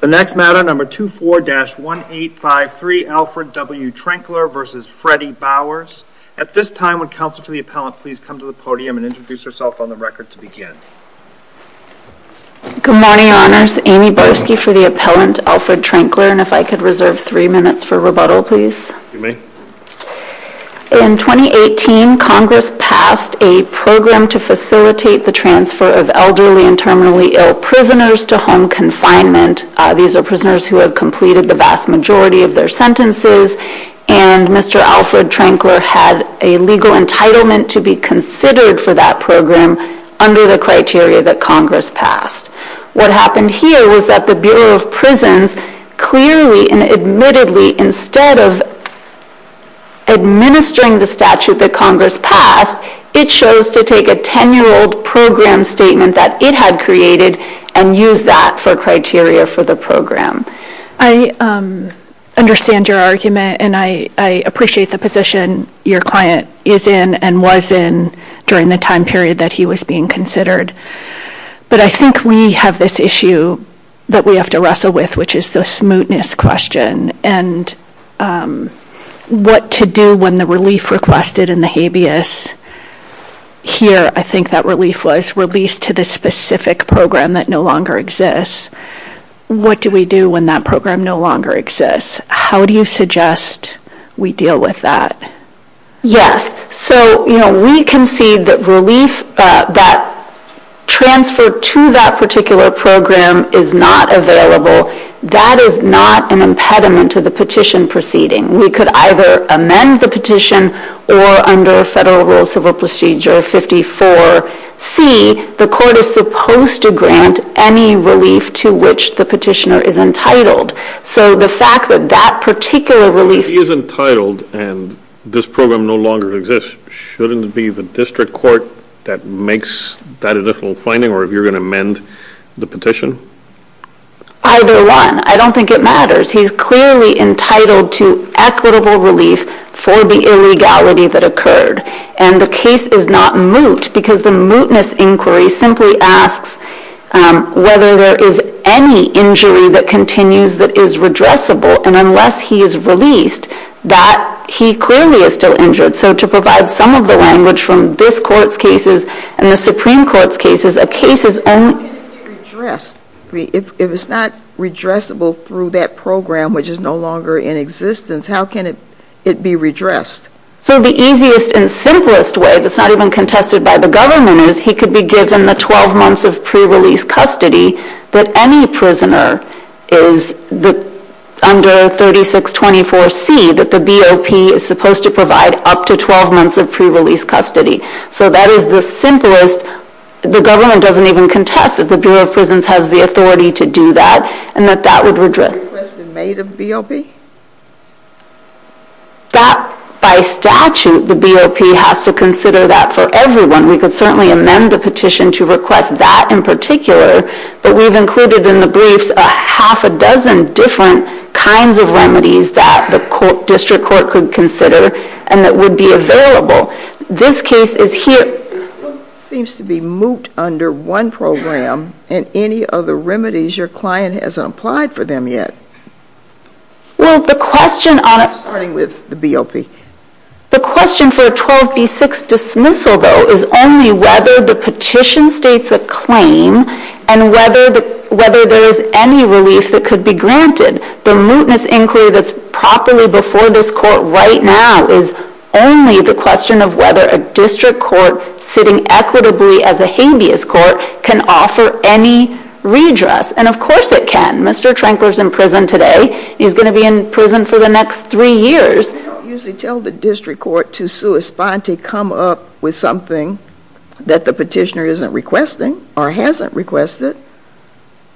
The next matter, number 24-1853, Alfred W. Trenkler v. Freddie Bowers. At this time, would counsel for the appellant please come to the podium and introduce herself on the record to begin. Good morning, Your Honors. Amy Barsky for the appellant, Alfred Trenkler, and if I could reserve three minutes for rebuttal, please. You may. In 2018, Congress passed a program to facilitate the transfer of elderly and terminally ill prisoners to home confinement. These are prisoners who have completed the vast majority of their sentences, and Mr. Alfred Trenkler had a legal entitlement to be considered for that program under the criteria that Congress passed. What happened here was that the Bureau of Prisons clearly and admittedly, instead of administering the statute that Congress passed, it chose to take a 10-year-old program statement that it had created and use that for criteria for the program. I understand your argument, and I appreciate the position your client is in and was in during the time period that he was being considered. But I think we have this issue that we have to wrestle with, which is the smoothness question, and what to do when the relief requested in the habeas, here I think that relief was released to the specific program that no longer exists. What do we do when that program no longer exists? How do you suggest we deal with that? Yes, so we concede that transfer to that particular program is not available. That is not an impediment to the petition proceeding. We could either amend the petition or under Federal Rules of Procedure 54C, the court is supposed to grant any relief to which the petitioner is entitled. So the fact that that particular relief... If he is entitled and this program no longer exists, shouldn't it be the district court that makes that additional finding, or if you're going to amend the petition? Either one. I don't think it matters. He's clearly entitled to equitable relief for the illegality that occurred. And the case is not moot, because the mootness inquiry simply asks whether there is any injury that continues that is redressable, and unless he is released, that he clearly is still injured. So to provide some of the language from this Court's cases and the Supreme Court's cases, a case is only... How can it be redressed? If it's not redressable through that program which is no longer in existence, how can it be redressed? So the easiest and simplest way, that's not even contested by the government, is he could be given the 12 months of pre-release custody that any prisoner is under 3624C, that the BOP is supposed to provide up to 12 months of pre-release custody. So that is the simplest. The government doesn't even contest that the Bureau of Prisons has the authority to do that, and that that would redress... Is that request made of the BOP? That, by statute, the BOP has to consider that for everyone. We could certainly amend the petition to request that in particular, but we've included in the briefs a half a dozen different kinds of remedies that the District Court could consider, and that would be available. This case is here... It seems to be moot under one program, and any other remedies, your client hasn't applied for them yet. Well, the question on... Starting with the BOP. The question for a 12B6 dismissal, though, is only whether the petition states a claim, and whether there is any relief that could be granted. The mootness inquiry that's properly before this court right now is only the question of whether a District Court sitting equitably as a habeas court can offer any redress, and of course it can. Mr. Trankler's in prison today. He's going to be in prison for the next three years. They don't usually tell the District Court to sua sponte, come up with something that the petitioner isn't requesting, or hasn't requested.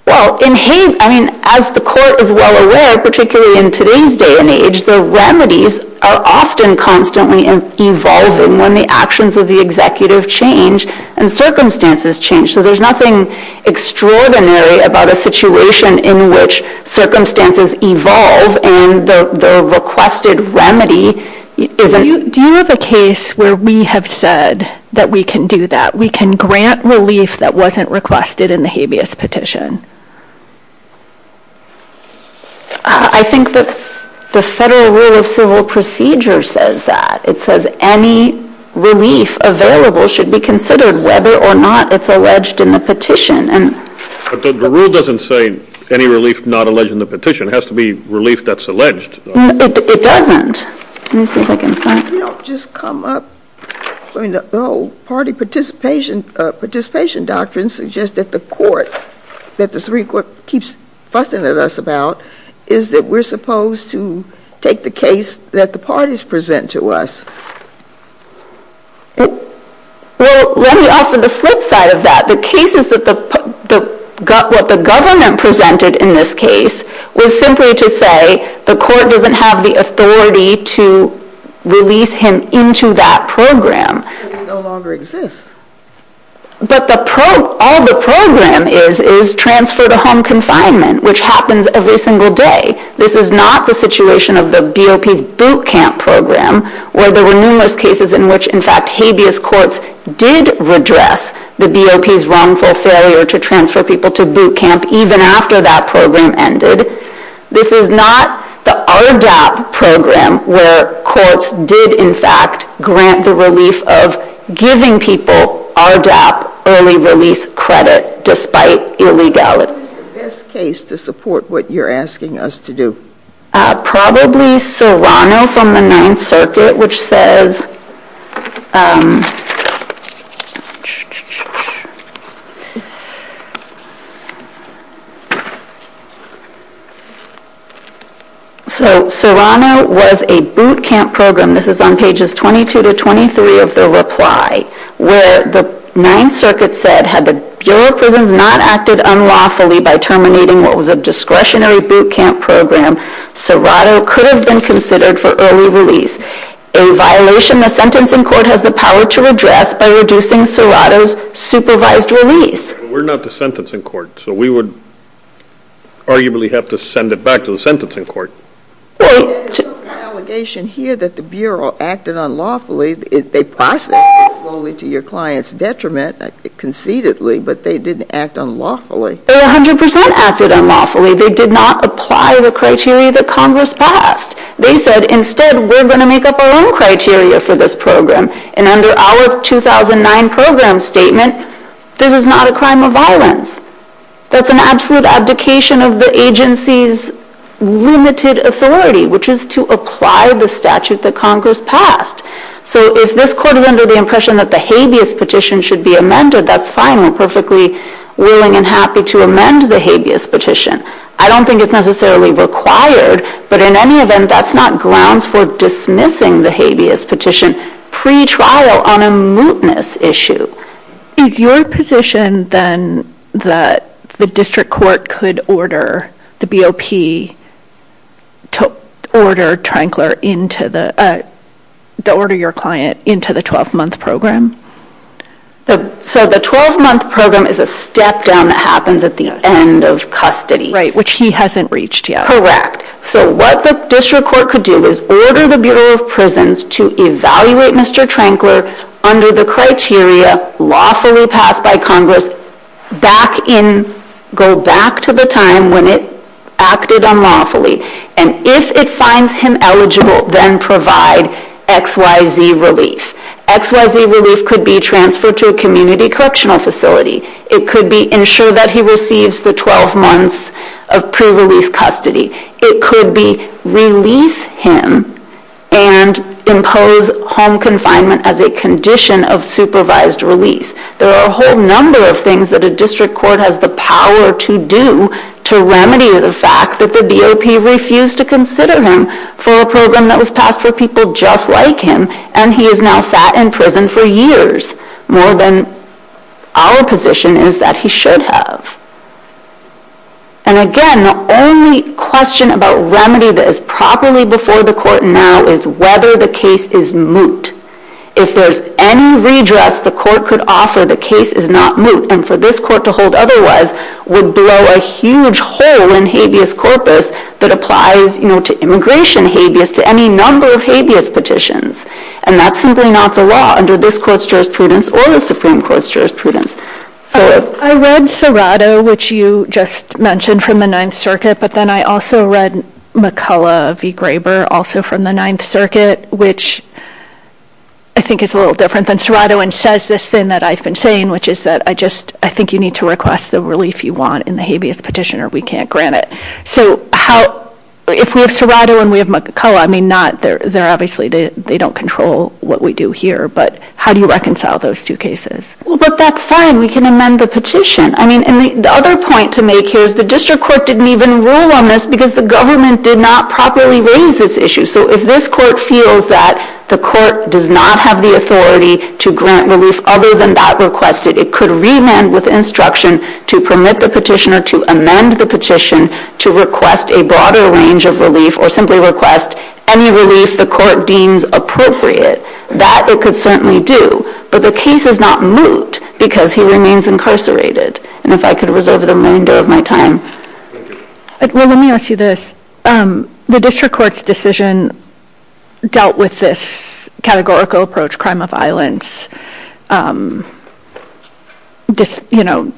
Well, in habe... ...constantly evolving when the actions of the executive change, and circumstances change. So there's nothing extraordinary about a situation in which circumstances evolve, and the requested remedy isn't... Do you have a case where we have said that we can do that? We can grant relief that wasn't requested in the habeas petition? I think that the Federal Rule of Civil Procedure says that. It says any relief available should be considered whether or not it's alleged in the petition. But the rule doesn't say any relief not alleged in the petition. It has to be relief that's alleged. It doesn't. Let me see if I can find... If we don't just come up... I mean, the whole party participation doctrine suggests that the court, that the Supreme Court keeps fussing at us about, is that we're supposed to take the case that the parties present to us. Well, let me offer the flip side of that. The cases that the... What the government presented in this case was simply to say the court doesn't have the authority to release him into that program. He no longer exists. But all the program is is transfer to home confinement, which happens every single day. This is not the situation of the BOP's boot camp program, where there were numerous cases in which, in fact, habeas courts did redress the BOP's wrongful failure to transfer people to boot camp even after that program ended. This is not the RDAP program, where courts did, in fact, grant the relief of giving people RDAP early release credit, despite illegality. Who is the best case to support what you're asking us to do? Probably Serrano from the Ninth Circuit, which says... So, Serrano was a boot camp program. This is on pages 22 to 23 of the reply, where the Ninth Circuit said, had the Bureau of Prisons not acted unlawfully by terminating what was a discretionary boot camp program, Serrano could have been considered for early release, a violation the sentencing court has the power to redress by reducing Serrano's supervised release. We're not the sentencing court, so we would arguably have to send it back to the sentencing court. There's an allegation here that the Bureau acted unlawfully. They processed it slowly to your client's detriment, conceitedly, but they didn't act unlawfully. They 100% acted unlawfully. They did not apply the criteria that Congress passed. They said, instead, we're going to make up our own criteria for this program, and under our 2009 program statement, this is not a crime of violence. That's an absolute abdication of the agency's limited authority, which is to apply the statute that Congress passed. So, if this court is under the impression that the habeas petition should be amended, that's fine. We're perfectly willing and happy to amend the habeas petition. I don't think it's necessarily required, but in any event, that's not grounds for dismissing the habeas petition pre-trial on a mootness issue. Is your position, then, that the district court could order the BOP to order your client into the 12-month program? So, the 12-month program is a step down that happens at the end of custody. Right, which he hasn't reached yet. Correct. So, what the district court could do is order the Bureau of Prisons to evaluate Mr. Trankler under the criteria lawfully passed by Congress, go back to the time when it acted unlawfully, and if it finds him eligible, then provide XYZ relief. XYZ relief could be transferred to a community correctional facility. It could ensure that he receives the 12 months of pre-release custody. It could be release him and impose home confinement as a condition of supervised release. There are a whole number of things that a district court has the power to do to remedy the fact that the BOP refused to consider him for a program that was passed for people just like him, and he has now sat in prison for years, more than our position is that he should have. And again, the only question about remedy that is properly before the court now is whether the case is moot. If there's any redress the court could offer, the case is not moot, and for this court to hold otherwise would blow a huge hole in habeas corpus that applies to immigration habeas, to any number of habeas petitions, and that's simply not the law under this court's jurisprudence or the Supreme Court's jurisprudence. I read Serrato, which you just mentioned, from the Ninth Circuit, but then I also read McCullough v. Graber, also from the Ninth Circuit, which I think is a little different than Serrato, and says this thing that I've been saying, which is that I think you need to request the relief you want in the habeas petition or we can't grant it. So if we have Serrato and we have McCullough, I mean, obviously they don't control what we do here, but how do you reconcile those two cases? Well, but that's fine. We can amend the petition. I mean, and the other point to make here is the district court didn't even rule on this because the government did not properly raise this issue. So if this court feels that the court does not have the authority to grant relief other than that requested, it could remand with instruction to permit the petitioner to amend the petition to request a broader range of relief or simply request any relief the court deems appropriate. That it could certainly do, but the case is not moot because he remains incarcerated. And if I could reserve the remainder of my time. Well, let me ask you this. The district court's decision dealt with this categorical approach, crime of violence, you know,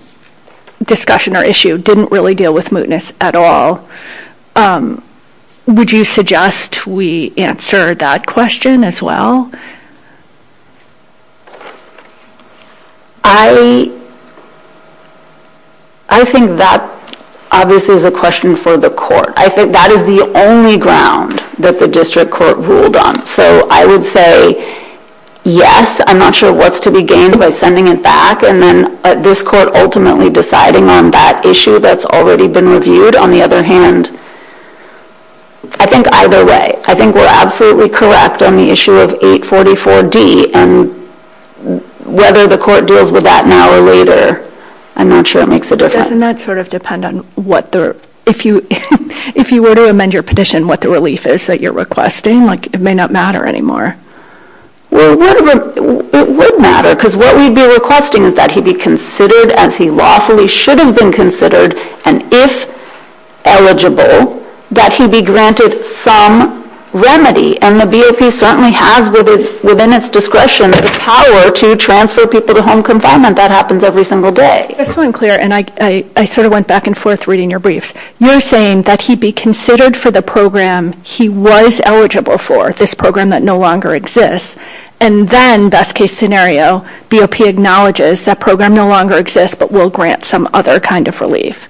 discussion or issue, didn't really deal with mootness at all. Would you suggest we answer that question as well? I think that obviously is a question for the court. I think that is the only ground that the district court ruled on. So I would say yes. I'm not sure what's to be gained by sending it back and then this court ultimately deciding on that issue that's already been reviewed. On the other hand, I think either way. I think we're absolutely correct on the issue of 844D. And whether the court deals with that now or later, I'm not sure it makes a difference. Doesn't that sort of depend on what the... If you were to amend your petition, what the relief is that you're requesting? Like, it may not matter anymore. Well, it would matter because what we'd be requesting is that he be considered as he lawfully should have been considered and, if eligible, that he be granted some remedy. And the BOP certainly has, within its discretion, the power to transfer people to home confinement. That happens every single day. Just so I'm clear, and I sort of went back and forth reading your briefs, you're saying that he be considered for the program he was eligible for, this program that no longer exists, and then, best-case scenario, BOP acknowledges that program no longer exists but will grant some other kind of relief.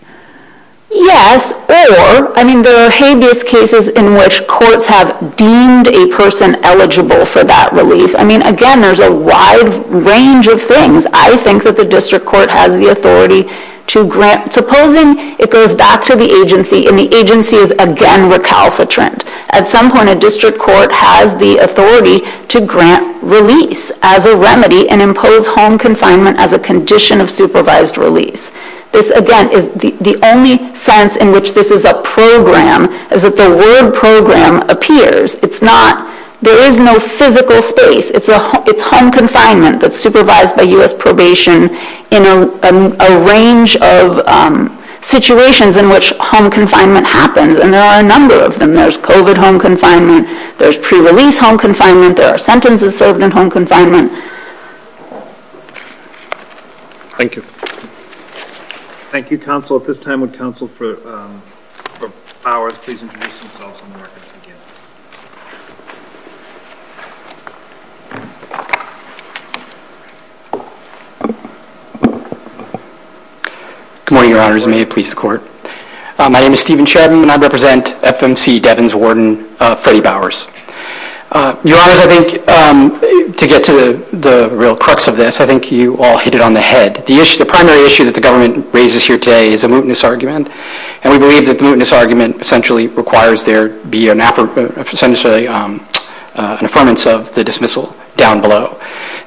Yes, or... I mean, there are habeas cases in which courts have deemed a person eligible for that relief. I mean, again, there's a wide range of things. I think that the district court has the authority to grant... Supposing it goes back to the agency, and the agency is again recalcitrant. At some point, a district court has the authority to grant release as a remedy and impose home confinement as a condition of supervised release. This, again, is... The only sense in which this is a program is that the word program appears. It's not... There is no physical space. It's home confinement that's supervised by US Probation in a range of situations in which home confinement happens, and there are a number of them. There's COVID home confinement. There's pre-release home confinement. There are sentences served in home confinement. Thank you. Thank you, counsel. At this time, would counsel for hours please introduce themselves and the record begin? Good morning, Your Honours. May it please the Court. My name is Stephen Shedman, and I represent FMC Devon's warden, Freddie Bowers. Your Honours, I think, to get to the real crux of this, I think you all hit it on the head. The primary issue that the government raises here today is a mootness argument, and we believe that the mootness argument essentially requires there be an affirmance of the dismissal down below.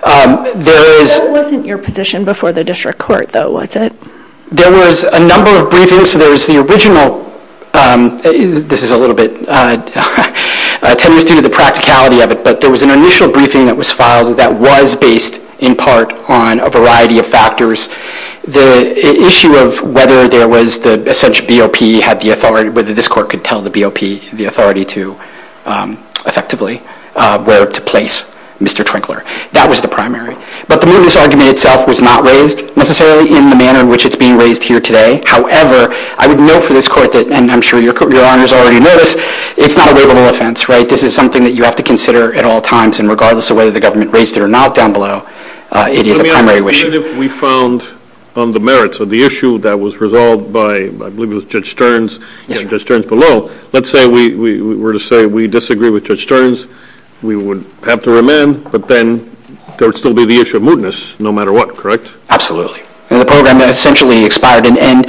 There is... That wasn't your position before the district court, though, was it? There was a number of briefings. There was the original... This is a little bit... Ten years due to the practicality of it, but there was an initial briefing that was filed that was based in part on a variety of factors. The issue of whether there was the essential BOP, whether this court could tell the BOP the authority to, effectively, where to place Mr. Trinkler, that was the primary. But the mootness argument itself was not raised necessarily in the manner in which it's being raised here today. However, I would note for this court that, and I'm sure your Honor has already noticed, it's not a waivable offense, right? This is something that you have to consider at all times, and regardless of whether the government raised it or not down below, it is a primary issue. Even if we found on the merits of the issue that was resolved by, I believe it was Judge Stearns, Judge Stearns below, let's say we were to say we disagree with Judge Stearns, we would have to remand, but then there would still be the issue of mootness, no matter what, correct? Absolutely. The program essentially expired, and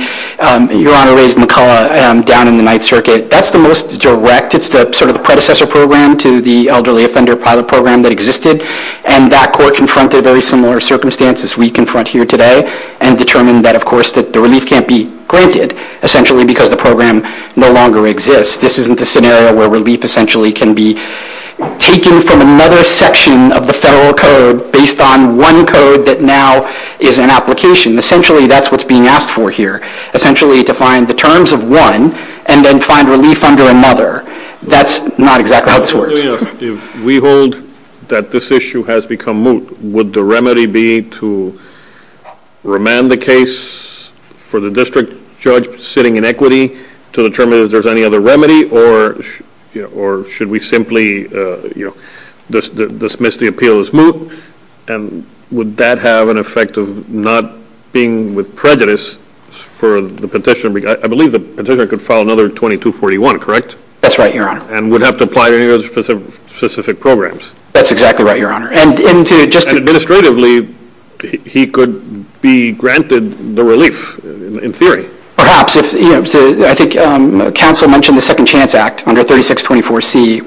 your Honor raised McCullough down in the Ninth Circuit. That's the most direct, it's sort of the predecessor program to the Elderly Offender Pilot Program that existed, and that court confronted very similar circumstances we confront here today, and determined that, of course, that the relief can't be granted, essentially because the program no longer exists. This isn't the scenario where relief, essentially, can be taken from another section of the federal code based on one code that now is an application. Essentially, that's what's being asked for here. Essentially, to find the terms of one, and then find relief under another. That's not exactly how this works. If we hold that this issue has become moot, would the remedy be to remand the case for the district judge sitting in equity to determine if there's any other remedy, or should we simply dismiss the appeal as moot, and would that have an effect of not being with prejudice for the petitioner? I believe the petitioner could file another 2241, correct? That's right, Your Honor. And would have to apply to any of those specific programs. That's exactly right, Your Honor. And administratively, he could be granted the relief, in theory. Perhaps. I think counsel mentioned the Second Chance Act under 3624C,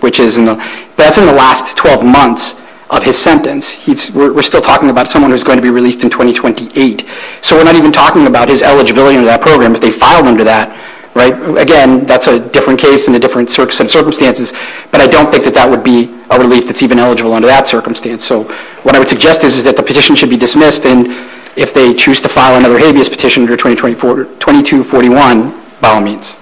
that's in the last 12 months of his sentence. We're still talking about someone who's going to be released in 2028. So we're not even talking about his eligibility under that program if they filed under that. Again, that's a different case and a different set of circumstances, but I don't think that that would be a relief that's even eligible under that circumstance. So what I would suggest is that the petition should be dismissed, and if they choose to file another habeas petition under 2241, by all means.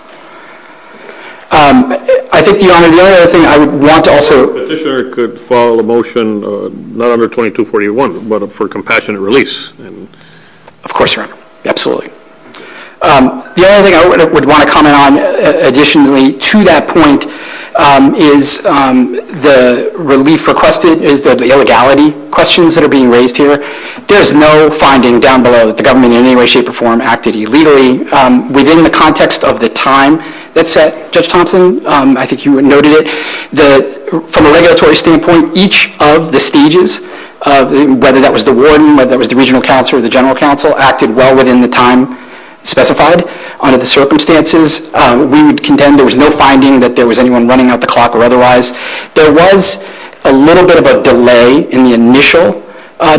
I think, Your Honor, the only other thing I would want to also... The petitioner could file a motion, not under 2241, but for compassionate release. Of course, Your Honor. Absolutely. The only thing I would want to comment on, additionally, to that point, is the relief requested, is the illegality questions that are being raised here. There's no finding down below that the government in any way, shape, or form acted illegally within the context of the time that's set. Judge Thompson, I think you noted it, that from a regulatory standpoint, each of the stages, whether that was the warden, whether that was the regional counsel, or the general counsel, acted well within the time specified under the circumstances. We would contend there was no finding that there was anyone running out the clock or otherwise. There was a little bit of a delay in the initial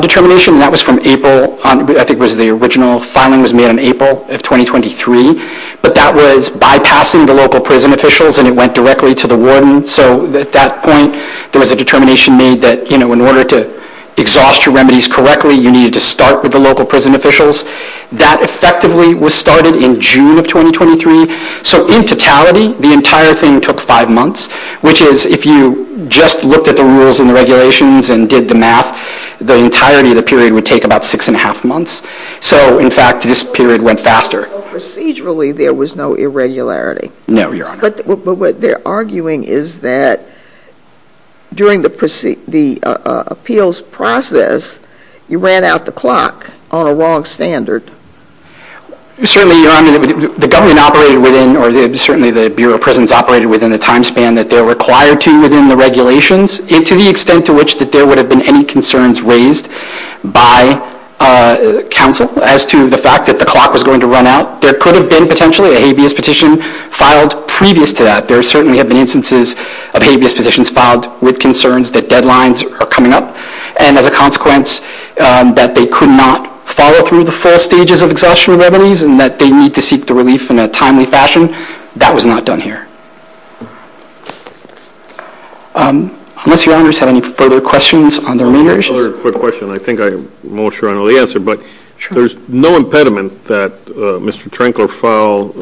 determination, and that was from April. I think it was the original filing was made in April of 2023, but that was bypassing the local prison officials, and it went directly to the warden. So at that point, there was a determination made that in order to exhaust your remedies correctly, you needed to start with the local prison officials. That effectively was started in June of 2023. So in totality, the entire thing took five months, which is, if you just looked at the rules and the regulations and did the math, the entirety of the period would take about six and a half months. So in fact, this period went faster. But procedurally, there was no irregularity. No, Your Honor. But what they're arguing is that during the appeals process, you ran out the clock on a wrong standard. Certainly, Your Honor, the government operated within, or certainly the Bureau of Prisons operated within the time span that they're required to within the regulations, to the extent to which that there would have been any concerns raised by counsel as to the fact that the clock was going to run out. There could have been potentially a habeas petition filed previous to that. There certainly have been instances of habeas petitions filed with concerns that deadlines are coming up. And as a consequence, that they could not follow through the full stages of exhaustion of remedies and that they need to seek the relief in a timely fashion, that was not done here. Unless Your Honors have any further questions on the remainder issues? I have another quick question. I think I'm more sure I know the answer, but there's no impediment that Mr. Trinkler file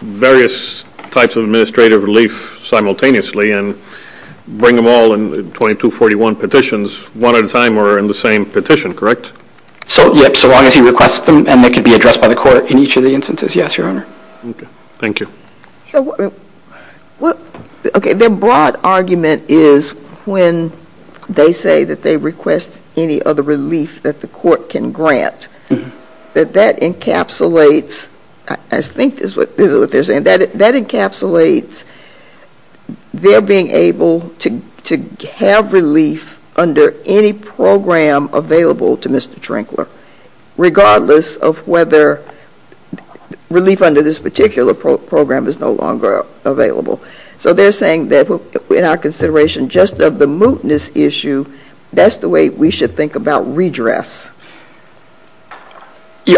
various types of administrative relief simultaneously and bring them all in 2241 petitions one at a time or in the same petition, correct? Yes, so long as he requests them and they can be addressed by the court in each of the instances. Yes, Your Honor. Okay, thank you. Their broad argument is when they say that they request any other relief that the court can grant, that that encapsulates, I think this is what they're saying, that encapsulates their being able to have relief under any program available to Mr. Trinkler, regardless of whether relief under this particular program is no longer available. So they're saying that in our consideration just of the mootness issue, that's the way we should think about redress.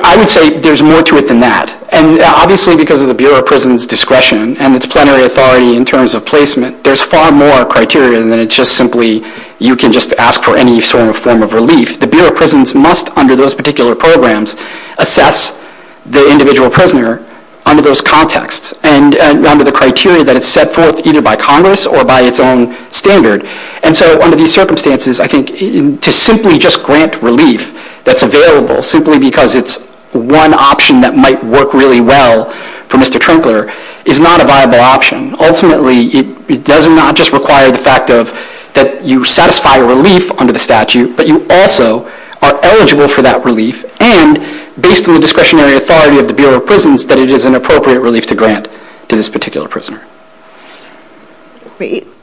I would say there's more to it than that. And obviously because of the Bureau of Prisons' discretion and its plenary authority in terms of placement, there's far more criteria than it's just simply you can just ask for any sort of form of relief. The Bureau of Prisons must, under those particular programs, assess the individual prisoner under those contexts and under the criteria that is set forth either by Congress or by its own standard. And so under these circumstances, I think to simply just grant relief that's available, simply because it's one option that might work really well for Mr. Trinkler, is not a viable option. Ultimately, it does not just require the fact of that you satisfy relief under the statute, but you also are eligible for that relief and, based on the discretionary authority of the Bureau of Prisons, that it is an appropriate relief to grant to this particular prisoner.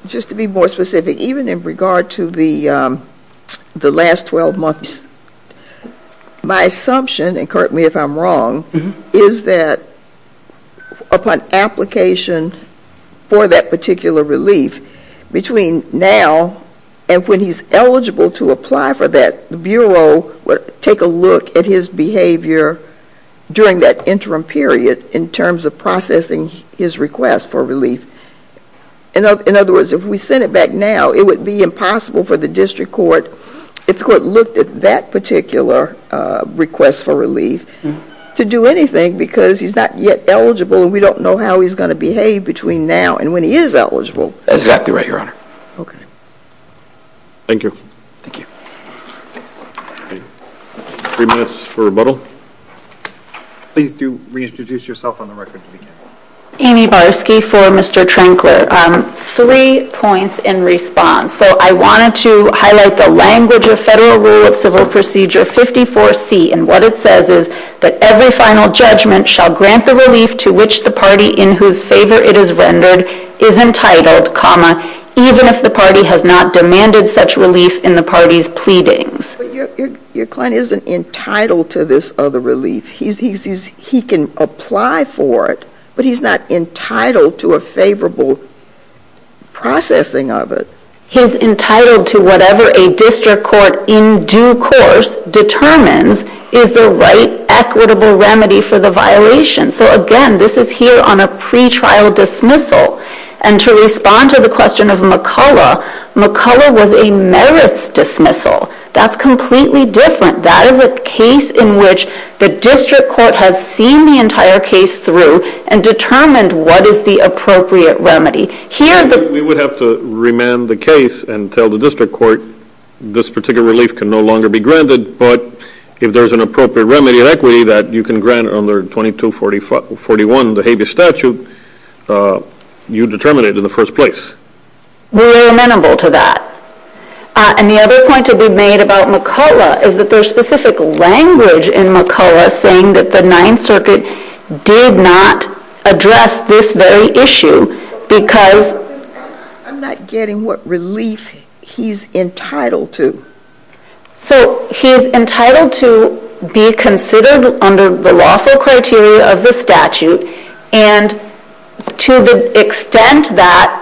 Just to be more specific, even in regard to the last 12 months, my assumption, and correct me if I'm wrong, is that upon application for that particular relief, between now and when he's eligible to apply for that, the Bureau will take a look at his behavior during that interim period in terms of processing his request for relief. In other words, if we sent it back now, it would be impossible for the district court, if the court looked at that particular request for relief, to do anything because he's not yet eligible and we don't know how he's going to behave between now and when he is eligible. That's exactly right, Your Honor. Thank you. Three minutes for rebuttal. Please do reintroduce yourself on the record. Amy Barsky for Mr. Trankler. Three points in response. I wanted to highlight the language of Federal Rule of Civil Procedure 54C, and what it says is that every final judgment shall grant the relief to which the party in whose favor it is rendered is entitled, even if the party has not demanded such relief in the party's pleadings. Your client isn't entitled to this other relief. He can apply for it, but he's not entitled to a favorable processing of it. He's entitled to whatever a district court in due course determines is the right equitable remedy for the violation. So again, this is here on a pretrial dismissal. And to respond to the question of McCullough, McCullough was a merits dismissal. That's completely different. That is a case in which the district court has seen the entire case through and determined what is the appropriate remedy. We would have to remand the case and tell the district court this particular relief can no longer be granted, but if there's an appropriate remedy of equity that you can grant under 2241, the habeas statute, you determine it in the first place. We were amenable to that. And the other point to be made about McCullough is that there's specific language in McCullough saying that the Ninth Circuit did not address this very issue because... I'm not getting what relief he's entitled to. So he's entitled to be considered under the lawful criteria of the statute, and to the extent that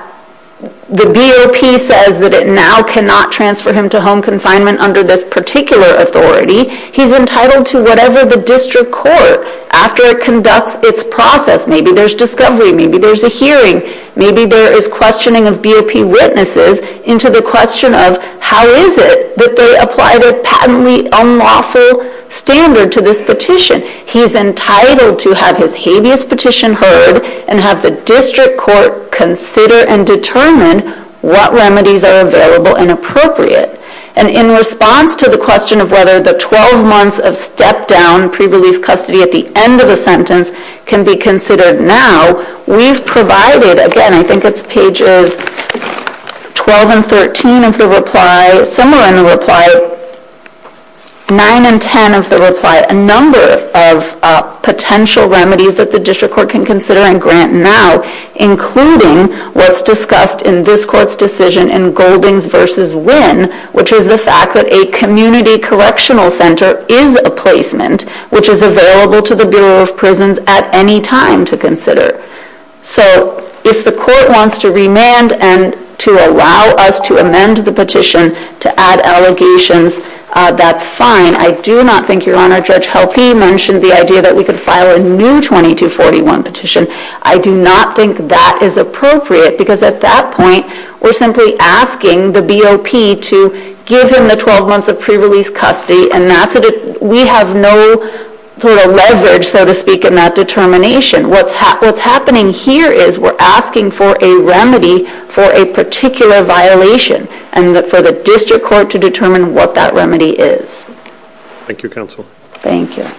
the BOP says that it now cannot transfer him to home confinement under this particular authority, he's entitled to whatever the district court, after it conducts its process, maybe there's discovery, maybe there's a hearing, maybe there is questioning of BOP witnesses into the question of how is it that they apply their patently unlawful standard to this petition. He's entitled to have his habeas petition heard and have the district court consider and determine what remedies are available and appropriate. And in response to the question of whether the 12 months of step-down pre-release custody at the end of the sentence can be considered now, we've provided, again, I think it's pages 12 and 13 of the reply, somewhere in the reply, 9 and 10 of the reply, a number of potential remedies that the district court can consider and grant now, including what's discussed in this court's decision in Golding's versus Winn, which is the fact that a community correctional center is a placement which is available to the Bureau of Prisons at any time to consider. So if the court wants to remand and to allow us to amend the petition to add allegations, that's fine. I do not think Your Honor, Judge Helpe mentioned the idea that we could file a new 2241 petition. I do not think that is appropriate because at that point we're simply asking the BOP to give him the 12 months of pre-release custody and we have no sort of leverage, so to speak, in that determination. What's happening here is we're asking for a remedy for a particular violation and for the district court to determine what that remedy is. Thank you, Counsel. Thank you.